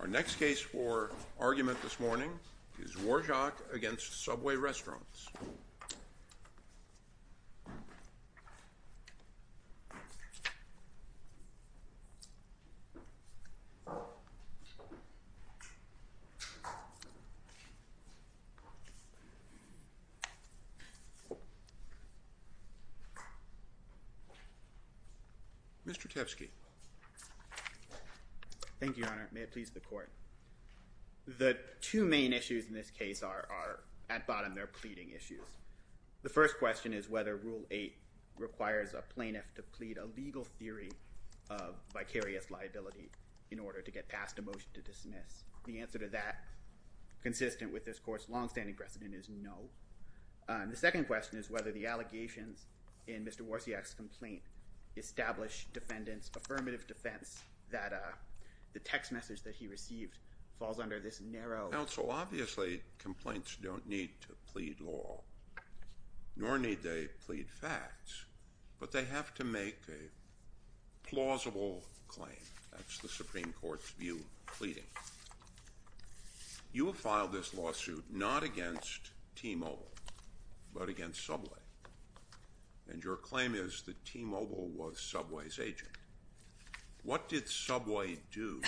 Our next case for argument this morning is Warciak v. Subway Restaurants. Mr. Tepsky. Thank you, Your Honor. May it please the Court. The two main issues in this case are, at bottom, they're pleading issues. The first question is whether Rule 8 requires a plaintiff to plead a legal theory of vicarious liability in order to get passed a motion to dismiss. The answer to that, consistent with this Court's longstanding precedent, is no. The second question is whether the allegations in Mr. Warciak's complaint establish defendants' affirmative defense that the text message that he received falls under this narrow... Counsel, obviously complaints don't need to plead law, nor need they plead facts, but they have to make a plausible claim. That's the Supreme Court's view of pleading. You have filed this lawsuit not against T-Mobile, but against Subway, and your claim is that T-Mobile was Subway's agent. What did Subway do,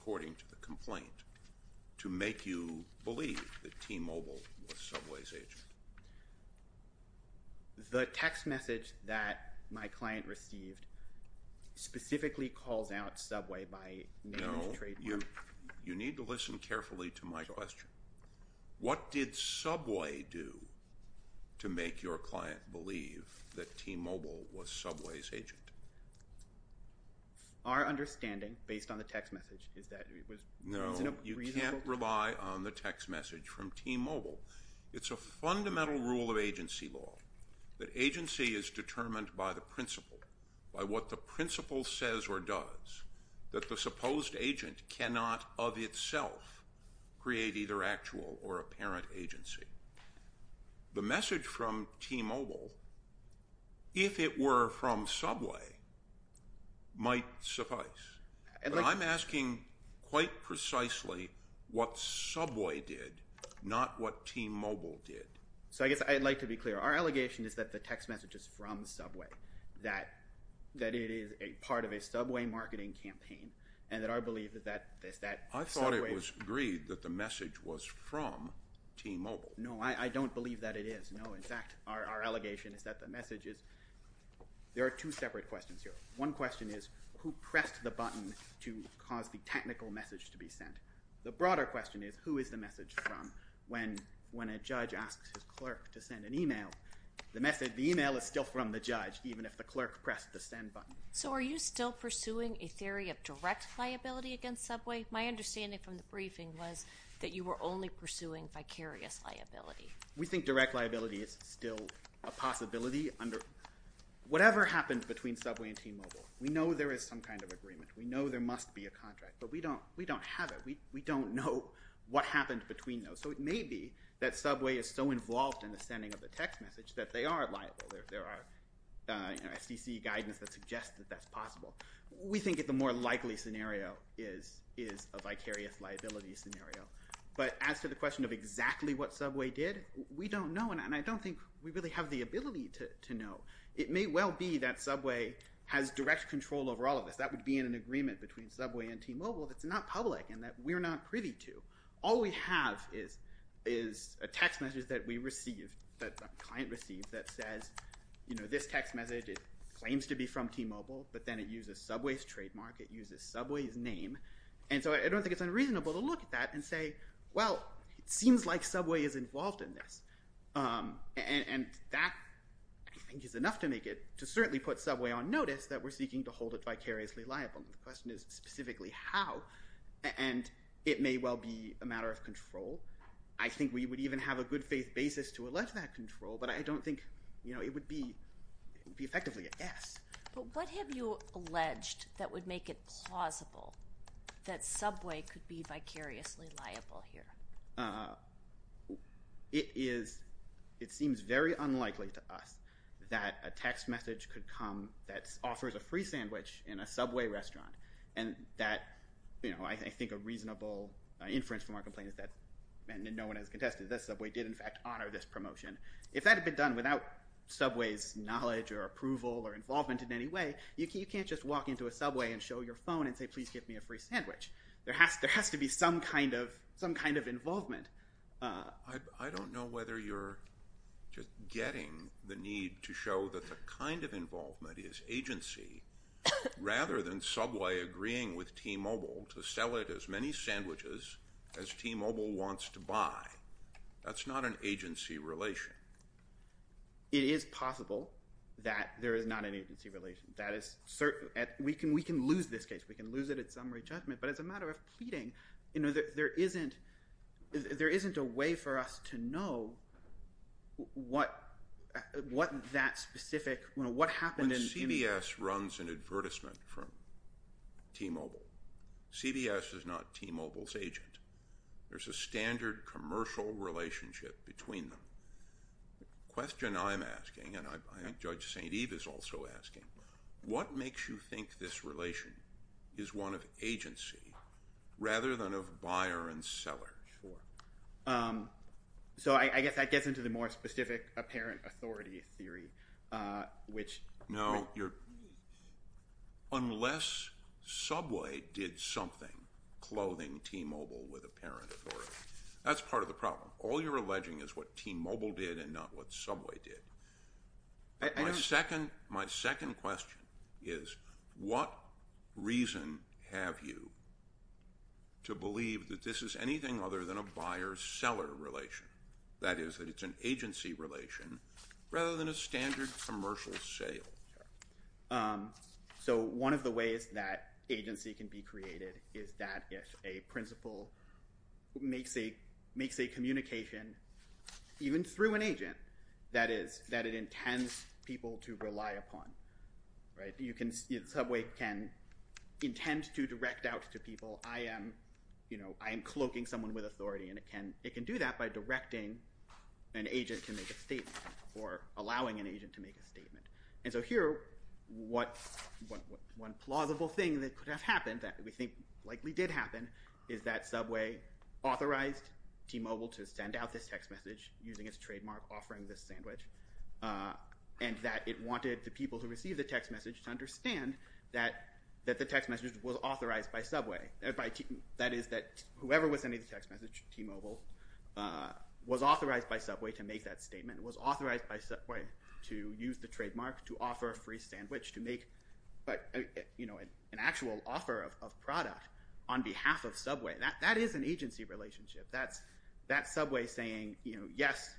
according to the complaint, to make you believe that T-Mobile was Subway's agent? The text message that my client received specifically calls out Subway by name and trademark. No. You need to listen carefully to my question. What did Subway do to make your client believe that T-Mobile was Subway's agent? Our understanding, based on the text message, is that it was... No, you can't rely on the text message from T-Mobile. It's a fundamental rule of agency law that agency is determined by the principle, by what the principle says or does, that the supposed agent cannot of itself create either actual or apparent agency. The message from T-Mobile, if it were from Subway, might suffice. But I'm asking quite precisely what Subway did, not what T-Mobile did. So I guess I'd like to be clear. Our allegation is that the text message is from Subway, that it is a part of a Subway marketing campaign, and that our belief is that Subway... I thought it was agreed that the message was from T-Mobile. No, I don't believe that it is. No, in fact, our allegation is that the message is... There are two separate questions here. One question is, who pressed the button to cause the technical message to be sent? The broader question is, who is the message from when a judge asks his clerk to send an email? The message, the email, is still from the judge, even if the clerk pressed the send button. So are you still pursuing a theory of direct liability against Subway? My understanding from the briefing was that you were only pursuing vicarious liability. We think direct liability is still a possibility. Whatever happened between Subway and T-Mobile, we know there is some kind of agreement. We know there must be a contract, but we don't have it. We don't know what happened between those. So it may be that Subway is so involved in the sending of the text message that they are liable. There are SEC guidance that suggests that that's possible. We think that the more likely scenario is a vicarious liability scenario. But as to the question of exactly what Subway did, we don't know, and I don't think we really have the ability to know. It may well be that Subway has direct control over all of this. That would be in an agreement between Subway and T-Mobile that's not public and that we're not privy to. All we have is a text message that we received, that the client received, that says, you know, this text message claims to be from T-Mobile, but then it uses Subway's trademark, it uses Subway's name. And so I don't think it's unreasonable to look at that and say, well, it seems like Subway is involved in this. And that, I think, is enough to make it to certainly put Subway on notice that we're seeking to hold it vicariously liable. The question is specifically how, and it may well be a matter of control. I think we would even have a good faith basis to allege that control, but I don't think, you know, it would be effectively a yes. But what have you alleged that would make it plausible that Subway could be vicariously liable here? It is, it seems very unlikely to us that a text message could come that offers a free sandwich in a Subway restaurant. And that, you know, I think a reasonable inference from our complaint is that no one has contested that Subway did, in fact, honor this promotion. If that had been done without Subway's knowledge or approval or involvement in any way, you can't just walk into a Subway and show your phone and say, please give me a free sandwich. There has to be some kind of involvement. I don't know whether you're just getting the need to show that the kind of involvement is agency, rather than Subway agreeing with T-Mobile to sell it as many sandwiches as T-Mobile wants to buy. That's not an agency relation. It is possible that there is not an agency relation. That is certain. We can lose this case. We can lose it at summary judgment. But as a matter of pleading, you know, there isn't a way for us to know what that specific, you know, what happened in the – When CBS runs an advertisement for T-Mobile, CBS is not T-Mobile's agent. There's a standard commercial relationship between them. The question I'm asking, and I think Judge St. Eve is also asking, what makes you think this relation is one of agency rather than of buyer and seller? Sure. So I guess that gets into the more specific apparent authority theory, which – No, you're – unless Subway did something clothing T-Mobile with apparent authority. That's part of the problem. All you're alleging is what T-Mobile did and not what Subway did. My second question is what reason have you to believe that this is anything other than a buyer-seller relation, that is, that it's an agency relation rather than a standard commercial sale? So one of the ways that agency can be created is that if a principal makes a communication, even through an agent, that is, that it intends people to rely upon, right? Subway can intend to direct out to people, I am, you know, I am cloaking someone with authority, and it can do that by directing an agent to make a statement or allowing an agent to make a statement. And so here, one plausible thing that could have happened, that we think likely did happen, is that Subway authorized T-Mobile to send out this text message using its trademark offering this sandwich and that it wanted the people who received the text message to understand that the text message was authorized by Subway. That is, that whoever was sending the text message to T-Mobile was authorized by Subway to make that statement, was authorized by Subway to use the trademark to offer a free sandwich to make, you know, an actual offer of product on behalf of Subway. That is an agency relationship. That's Subway saying, you know, yes,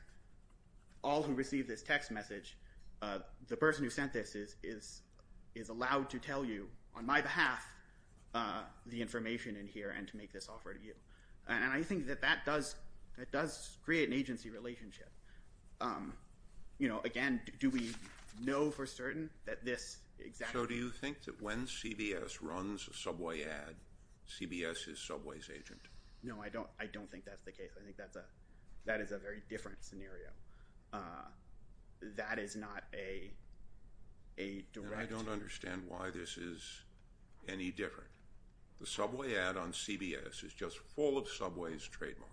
all who received this text message, the person who sent this is allowed to tell you, on my behalf, the information in here and to make this offer to you. And I think that that does create an agency relationship. You know, again, do we know for certain that this exactly? So do you think that when CBS runs a Subway ad, CBS is Subway's agent? No, I don't think that's the case. I think that is a very different scenario. That is not a direct. And I don't understand why this is any different. The Subway ad on CBS is just full of Subway's trademarks.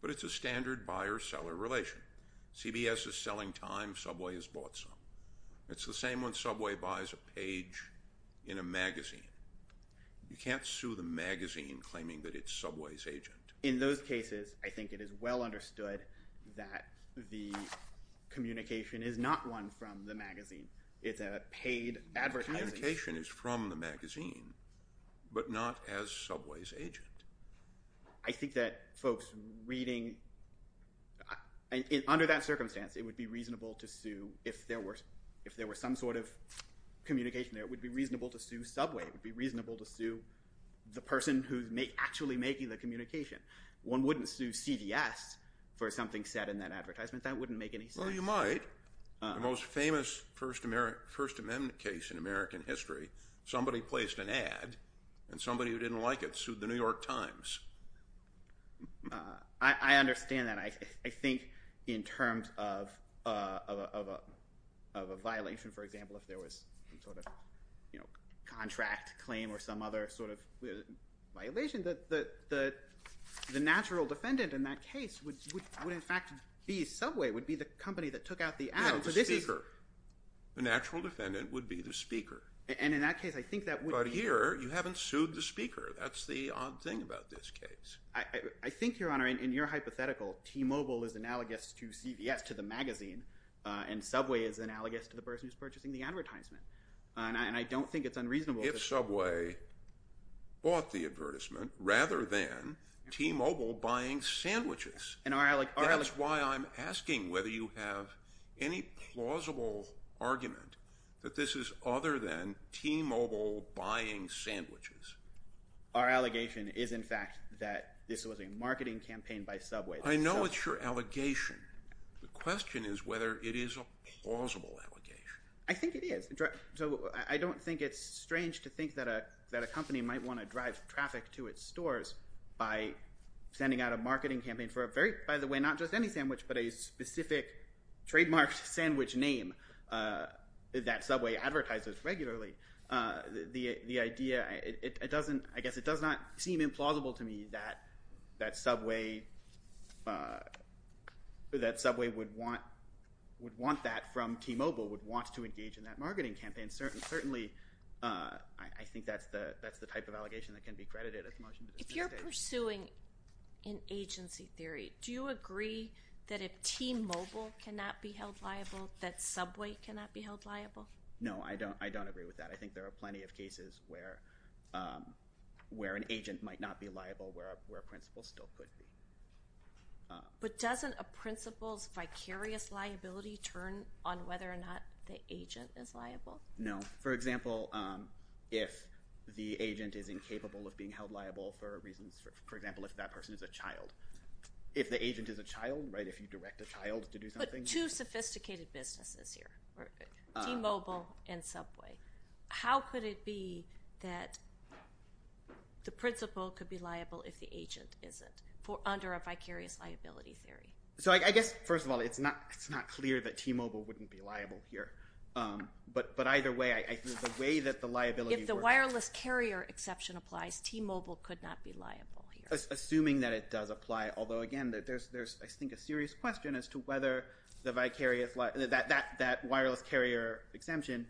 But it's a standard buyer-seller relation. CBS is selling time, Subway has bought some. It's the same when Subway buys a page in a magazine. You can't sue the magazine claiming that it's Subway's agent. In those cases, I think it is well understood that the communication is not one from the magazine. It's a paid advertising. The communication is from the magazine, but not as Subway's agent. I think that folks reading, under that circumstance, it would be reasonable to sue if there were some sort of communication there. It would be reasonable to sue Subway. It would be reasonable to sue the person who's actually making the communication. One wouldn't sue CBS for something said in that advertisement. That wouldn't make any sense. Well, you might. The most famous First Amendment case in American history, somebody placed an ad, and somebody who didn't like it sued the New York Times. I understand that. I think in terms of a violation, for example, if there was some sort of contract claim or some other sort of violation, the natural defendant in that case would in fact be Subway, would be the company that took out the ad. No, the speaker. The natural defendant would be the speaker. And in that case, I think that would be— But here, you haven't sued the speaker. That's the odd thing about this case. I think, Your Honor, in your hypothetical, T-Mobile is analogous to CBS, to the magazine, and Subway is analogous to the person who's purchasing the advertisement. And I don't think it's unreasonable— If Subway bought the advertisement rather than T-Mobile buying sandwiches. And our— That's why I'm asking whether you have any plausible argument that this is other than T-Mobile buying sandwiches. Our allegation is in fact that this was a marketing campaign by Subway. I know it's your allegation. The question is whether it is a plausible allegation. I think it is. So I don't think it's strange to think that a company might want to drive traffic to its stores by sending out a marketing campaign for a very— by the way, not just any sandwich, but a specific trademarked sandwich name that Subway advertises regularly. The idea—it doesn't—I guess it does not seem implausible to me that Subway would want that from T-Mobile, would want to engage in that marketing campaign. Certainly, I think that's the type of allegation that can be credited as a motion to dismiss it. If you're pursuing an agency theory, do you agree that if T-Mobile cannot be held liable, that Subway cannot be held liable? No, I don't agree with that. I think there are plenty of cases where an agent might not be liable, where a principal still could be. But doesn't a principal's vicarious liability turn on whether or not the agent is liable? No. For example, if the agent is incapable of being held liable for reasons—for example, if that person is a child. If the agent is a child, right, if you direct a child to do something— There are two sophisticated businesses here, T-Mobile and Subway. How could it be that the principal could be liable if the agent isn't, under a vicarious liability theory? So I guess, first of all, it's not clear that T-Mobile wouldn't be liable here. But either way, I think the way that the liability— If the wireless carrier exception applies, T-Mobile could not be liable here. I'm just assuming that it does apply. Although, again, there's, I think, a serious question as to whether that wireless carrier exemption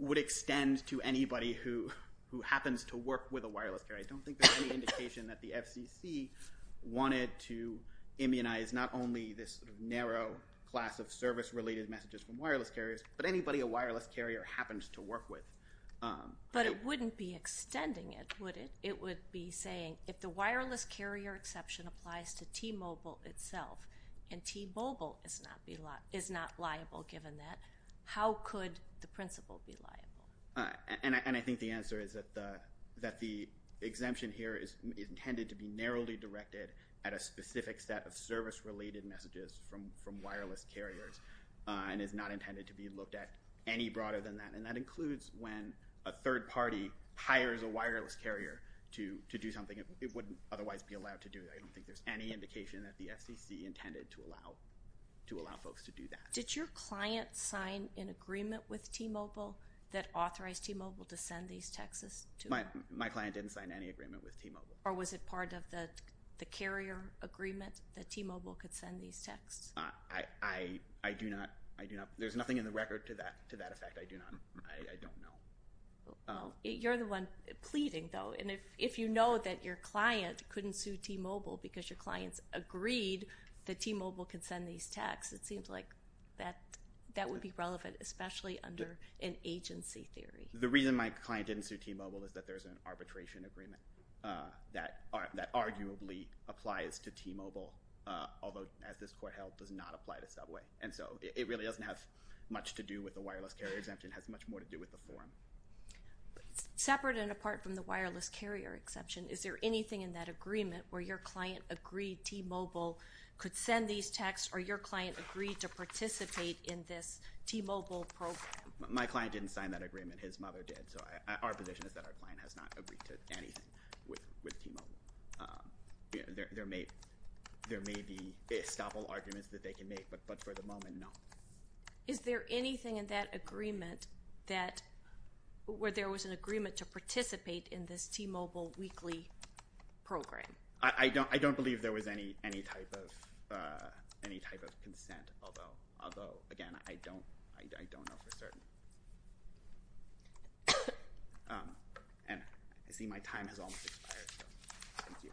would extend to anybody who happens to work with a wireless carrier. I don't think there's any indication that the FCC wanted to immunize not only this narrow class of service-related messages from wireless carriers, but anybody a wireless carrier happens to work with. But it wouldn't be extending it, would it? It would be saying, if the wireless carrier exception applies to T-Mobile itself, and T-Mobile is not liable given that, how could the principal be liable? And I think the answer is that the exemption here is intended to be narrowly directed at a specific set of service-related messages from wireless carriers and is not intended to be looked at any broader than that. And that includes when a third party hires a wireless carrier to do something it wouldn't otherwise be allowed to do. I don't think there's any indication that the FCC intended to allow folks to do that. Did your client sign an agreement with T-Mobile that authorized T-Mobile to send these texts? My client didn't sign any agreement with T-Mobile. Or was it part of the carrier agreement that T-Mobile could send these texts? I do not. There's nothing in the record to that effect. I do not. I don't know. You're the one pleading, though. And if you know that your client couldn't sue T-Mobile because your client's agreed that T-Mobile could send these texts, it seems like that would be relevant, especially under an agency theory. The reason my client didn't sue T-Mobile is that there's an arbitration agreement that arguably applies to T-Mobile, although, as this court held, does not apply to Subway. And so it really doesn't have much to do with the wireless carrier exemption. It has much more to do with the forum. Separate and apart from the wireless carrier exemption, is there anything in that agreement where your client agreed T-Mobile could send these texts or your client agreed to participate in this T-Mobile program? My client didn't sign that agreement. His mother did. So our position is that our client has not agreed to anything with T-Mobile. There may be estoppel arguments that they can make, but for the moment, no. Is there anything in that agreement where there was an agreement to participate in this T-Mobile weekly program? I don't believe there was any type of consent, although, again, I don't know for certain. And I see my time has almost expired. Thank you.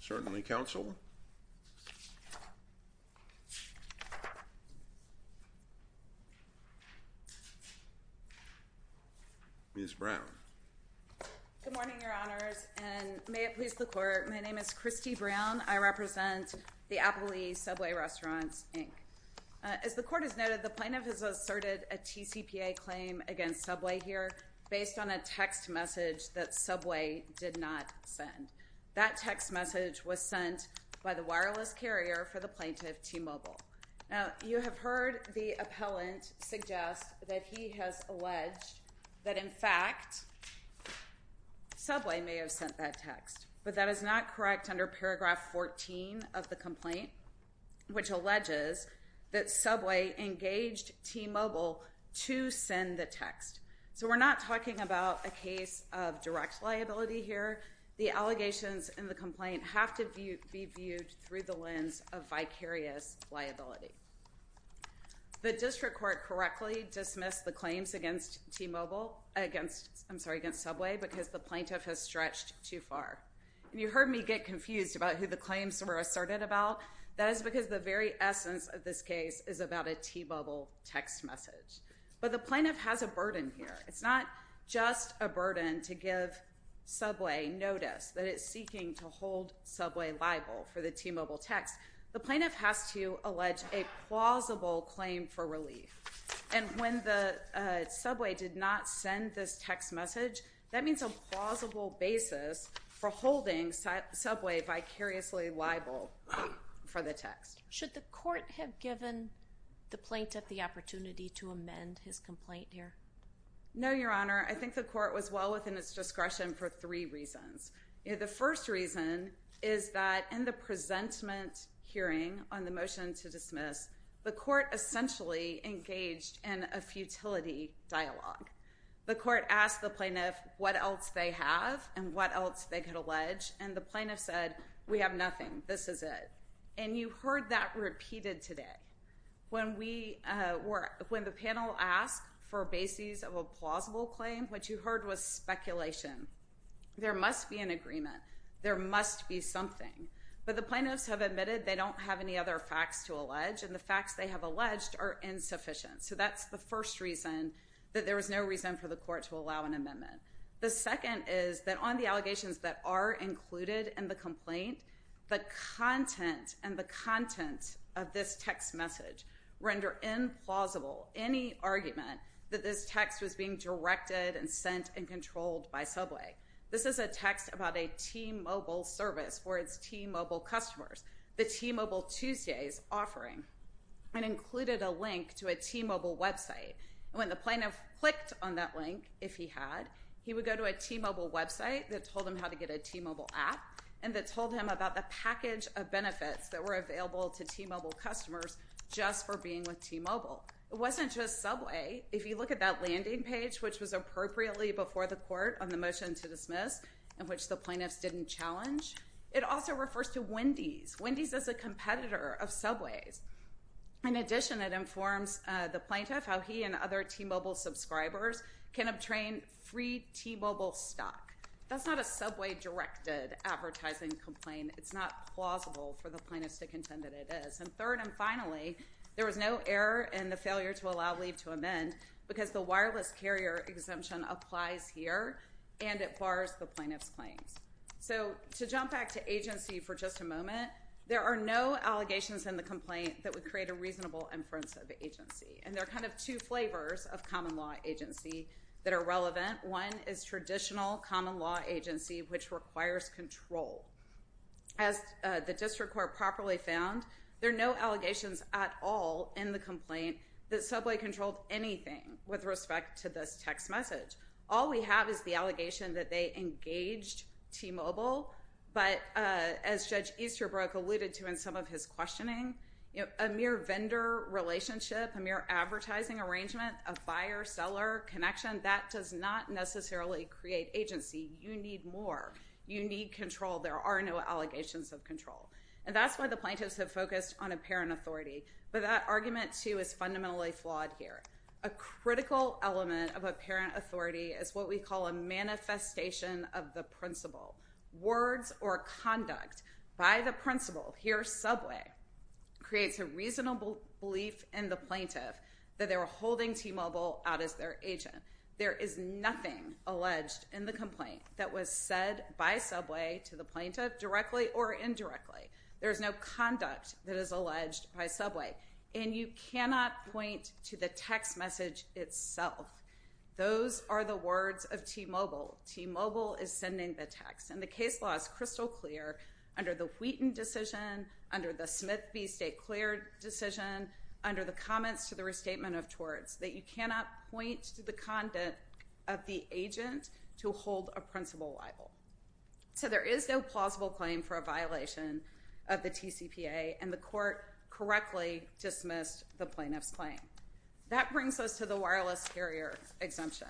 Certainly, counsel. Ms. Brown. Good morning, Your Honors, and may it please the court. My name is Christy Brown. I represent the Applebee's Subway Restaurants, Inc. As the court has noted, the plaintiff has asserted a TCPA claim against Subway here based on a text message that Subway did not send. That text message was sent by the wireless carrier for the plaintiff, T-Mobile. Now, you have heard the appellant suggest that he has alleged that, in fact, Subway may have sent that text. But that is not correct under paragraph 14 of the complaint, which alleges that Subway engaged T-Mobile to send the text. So we're not talking about a case of direct liability here. The allegations in the complaint have to be viewed through the lens of vicarious liability. The district court correctly dismissed the claims against T-Mobile, I'm sorry, against Subway because the plaintiff has stretched too far. And you heard me get confused about who the claims were asserted about. That is because the very essence of this case is about a T-Mobile text message. But the plaintiff has a burden here. It's not just a burden to give Subway notice that it's seeking to hold Subway liable for the T-Mobile text. The plaintiff has to allege a plausible claim for relief. And when Subway did not send this text message, that means a plausible basis for holding Subway vicariously liable for the text. Should the court have given the plaintiff the opportunity to amend his complaint here? No, Your Honor. I think the court was well within its discretion for three reasons. The first reason is that in the presentment hearing on the motion to dismiss, the court essentially engaged in a futility dialogue. The court asked the plaintiff what else they have and what else they could allege, and the plaintiff said, we have nothing. This is it. And you heard that repeated today. When the panel asked for basis of a plausible claim, what you heard was speculation. There must be an agreement. There must be something. But the plaintiffs have admitted they don't have any other facts to allege, and the facts they have alleged are insufficient. So that's the first reason that there was no reason for the court to allow an amendment. The second is that on the allegations that are included in the complaint, the content and the content of this text message render implausible any argument that this text was being directed and sent and controlled by Subway. This is a text about a T-Mobile service for its T-Mobile customers, the T-Mobile Tuesdays offering, and included a link to a T-Mobile website. And when the plaintiff clicked on that link, if he had, he would go to a T-Mobile website that told him how to get a T-Mobile app and that told him about the package of benefits that were available to T-Mobile customers just for being with T-Mobile. It wasn't just Subway. If you look at that landing page, which was appropriately before the court on the motion to dismiss, in which the plaintiffs didn't challenge, it also refers to Wendy's. Wendy's is a competitor of Subway's. In addition, it informs the plaintiff how he and other T-Mobile subscribers can obtain free T-Mobile stock. That's not a Subway-directed advertising complaint. It's not plausible for the plaintiffs to contend that it is. And third and finally, there was no error in the failure to allow leave to amend because the wireless carrier exemption applies here and it bars the plaintiff's claims. So to jump back to agency for just a moment, there are no allegations in the complaint that would create a reasonable inference of agency. And there are kind of two flavors of common law agency that are relevant. One is traditional common law agency, which requires control. As the district court properly found, there are no allegations at all in the complaint that Subway controlled anything with respect to this text message. All we have is the allegation that they engaged T-Mobile. But as Judge Easterbrook alluded to in some of his questioning, a mere vendor relationship, a mere advertising arrangement, a buyer-seller connection, that does not necessarily create agency. You need more. You need control. There are no allegations of control. And that's why the plaintiffs have focused on apparent authority. But that argument, too, is fundamentally flawed here. A critical element of apparent authority is what we call a manifestation of the principle. Words or conduct by the principle, here Subway, creates a reasonable belief in the plaintiff that they were holding T-Mobile out as their agent. There is nothing alleged in the complaint that was said by Subway to the plaintiff directly or indirectly. There is no conduct that is alleged by Subway. And you cannot point to the text message itself. Those are the words of T-Mobile. T-Mobile is sending the text. And the case law is crystal clear under the Wheaton decision, under the Smith v. State Clear decision, under the comments to the restatement of torts, that you cannot point to the content of the agent to hold a principle libel. So there is no plausible claim for a violation of the TCPA. And the court correctly dismissed the plaintiff's claim. That brings us to the wireless carrier exemption.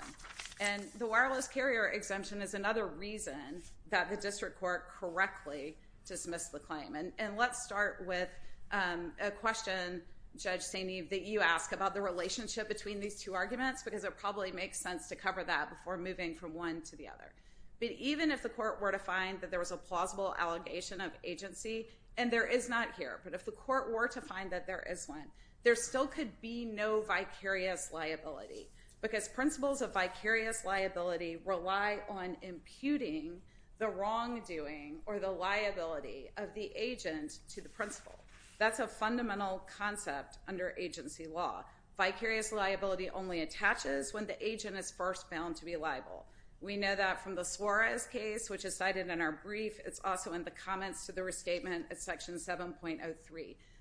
And the wireless carrier exemption is another reason that the district court correctly dismissed the claim. And let's start with a question, Judge St. Eve, that you ask about the relationship between these two arguments, because it probably makes sense to cover that before moving from one to the other. But even if the court were to find that there was a plausible allegation of agency, and there is not here, but if the court were to find that there is one, there still could be no vicarious liability. Because principles of vicarious liability rely on imputing the wrongdoing or the liability of the agent to the principle. That's a fundamental concept under agency law. Vicarious liability only attaches when the agent is first found to be liable. We know that from the Suarez case, which is cited in our brief. It's also in the comments to the restatement at Section 7.03.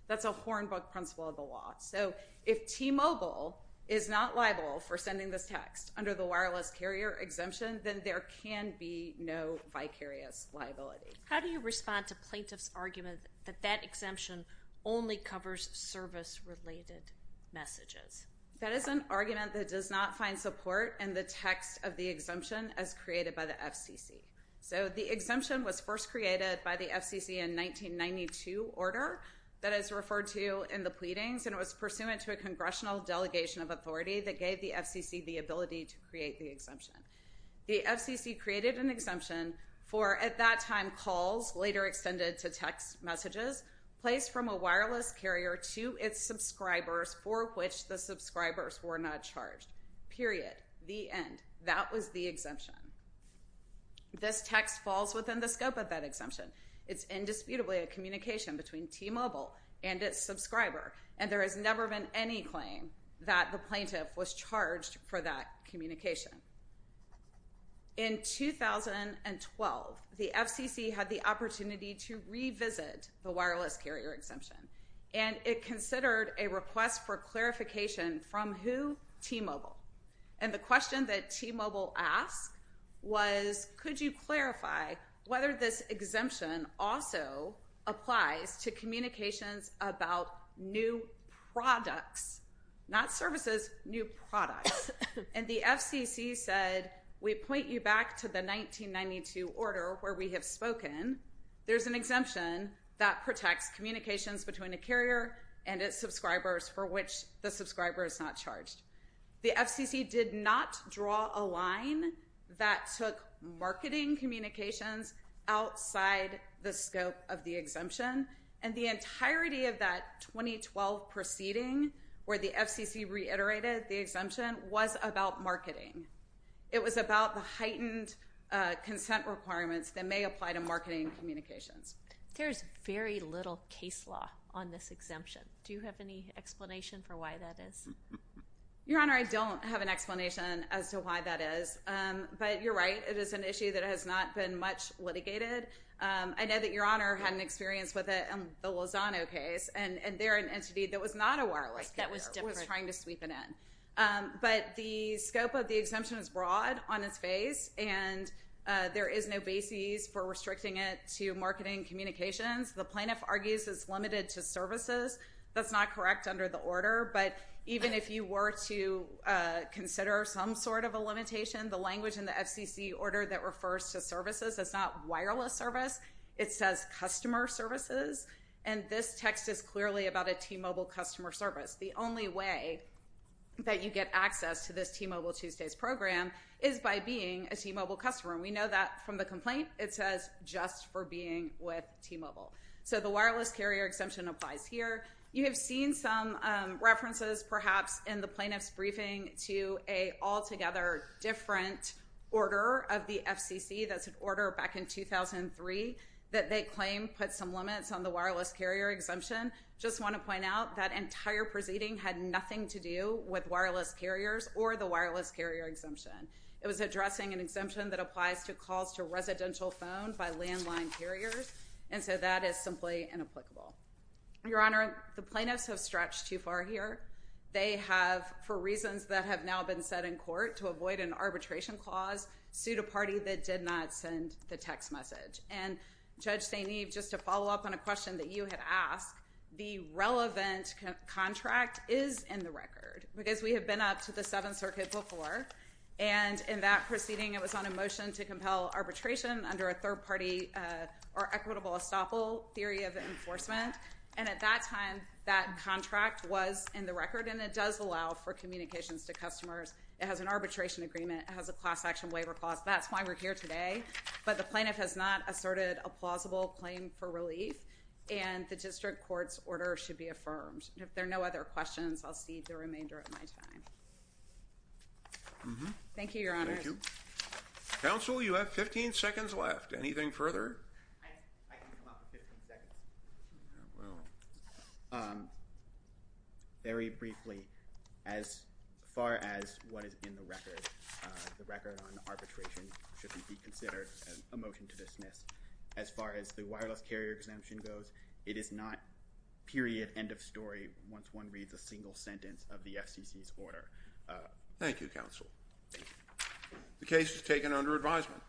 That's a hornbook principle of the law. So if T-Mobile is not liable for sending this text under the wireless carrier exemption, then there can be no vicarious liability. How do you respond to plaintiff's argument that that exemption only covers service-related messages? That is an argument that does not find support in the text of the exemption as created by the FCC. So the exemption was first created by the FCC in 1992 order that is referred to in the pleadings, and it was pursuant to a congressional delegation of authority that gave the FCC the ability to create the exemption. The FCC created an exemption for, at that time, calls, later extended to text messages, placed from a wireless carrier to its subscribers for which the subscribers were not charged. Period. The end. That was the exemption. This text falls within the scope of that exemption. It's indisputably a communication between T-Mobile and its subscriber, and there has never been any claim that the plaintiff was charged for that communication. In 2012, the FCC had the opportunity to revisit the wireless carrier exemption, and it considered a request for clarification from who? T-Mobile. And the question that T-Mobile asked was, could you clarify whether this exemption also applies to communications about new products? Not services, new products. And the FCC said, we point you back to the 1992 order where we have spoken. There's an exemption that protects communications between a carrier and its subscribers for which the subscriber is not charged. The FCC did not draw a line that took marketing communications outside the scope of the exemption, and the entirety of that 2012 proceeding where the FCC reiterated the exemption was about marketing. It was about the heightened consent requirements that may apply to marketing communications. There's very little case law on this exemption. Do you have any explanation for why that is? Your Honor, I don't have an explanation as to why that is. But you're right, it is an issue that has not been much litigated. I know that Your Honor had an experience with it in the Lozano case, and there an entity that was not a wireless carrier was trying to sweep it in. But the scope of the exemption is broad on its face, and there is no basis for restricting it to marketing communications. The plaintiff argues it's limited to services. That's not correct under the order, but even if you were to consider some sort of a limitation, the language in the FCC order that refers to services is not wireless service. It says customer services, and this text is clearly about a T-Mobile customer service. The only way that you get access to this T-Mobile Tuesdays program is by being a T-Mobile customer. We know that from the complaint. It says just for being with T-Mobile. So the wireless carrier exemption applies here. You have seen some references perhaps in the plaintiff's briefing to an altogether different order of the FCC. That's an order back in 2003 that they claim put some limits on the wireless carrier exemption. Just want to point out that entire proceeding had nothing to do with wireless carriers or the wireless carrier exemption. It was addressing an exemption that applies to calls to residential phone by landline carriers, and so that is simply inapplicable. Your Honor, the plaintiffs have stretched too far here. They have, for reasons that have now been set in court to avoid an arbitration clause, sued a party that did not send the text message. And Judge St. Eve, just to follow up on a question that you had asked, the relevant contract is in the record because we have been up to the Seventh Circuit before, and in that proceeding it was on a motion to compel arbitration under a third-party or equitable estoppel theory of enforcement. And at that time, that contract was in the record, and it does allow for communications to customers. It has an arbitration agreement. It has a class-action waiver clause. That's why we're here today. But the plaintiff has not asserted a plausible claim for relief, and the district court's order should be affirmed. If there are no other questions, I'll cede the remainder of my time. Thank you, Your Honor. Thank you. Counsel, you have 15 seconds left. Anything further? Very briefly, as far as what is in the record, the record on arbitration should be considered a motion to dismiss. As far as the wireless carrier exemption goes, it is not period, end of story, once one reads a single sentence of the FCC's order. Thank you, Counsel. The case is taken under advisement.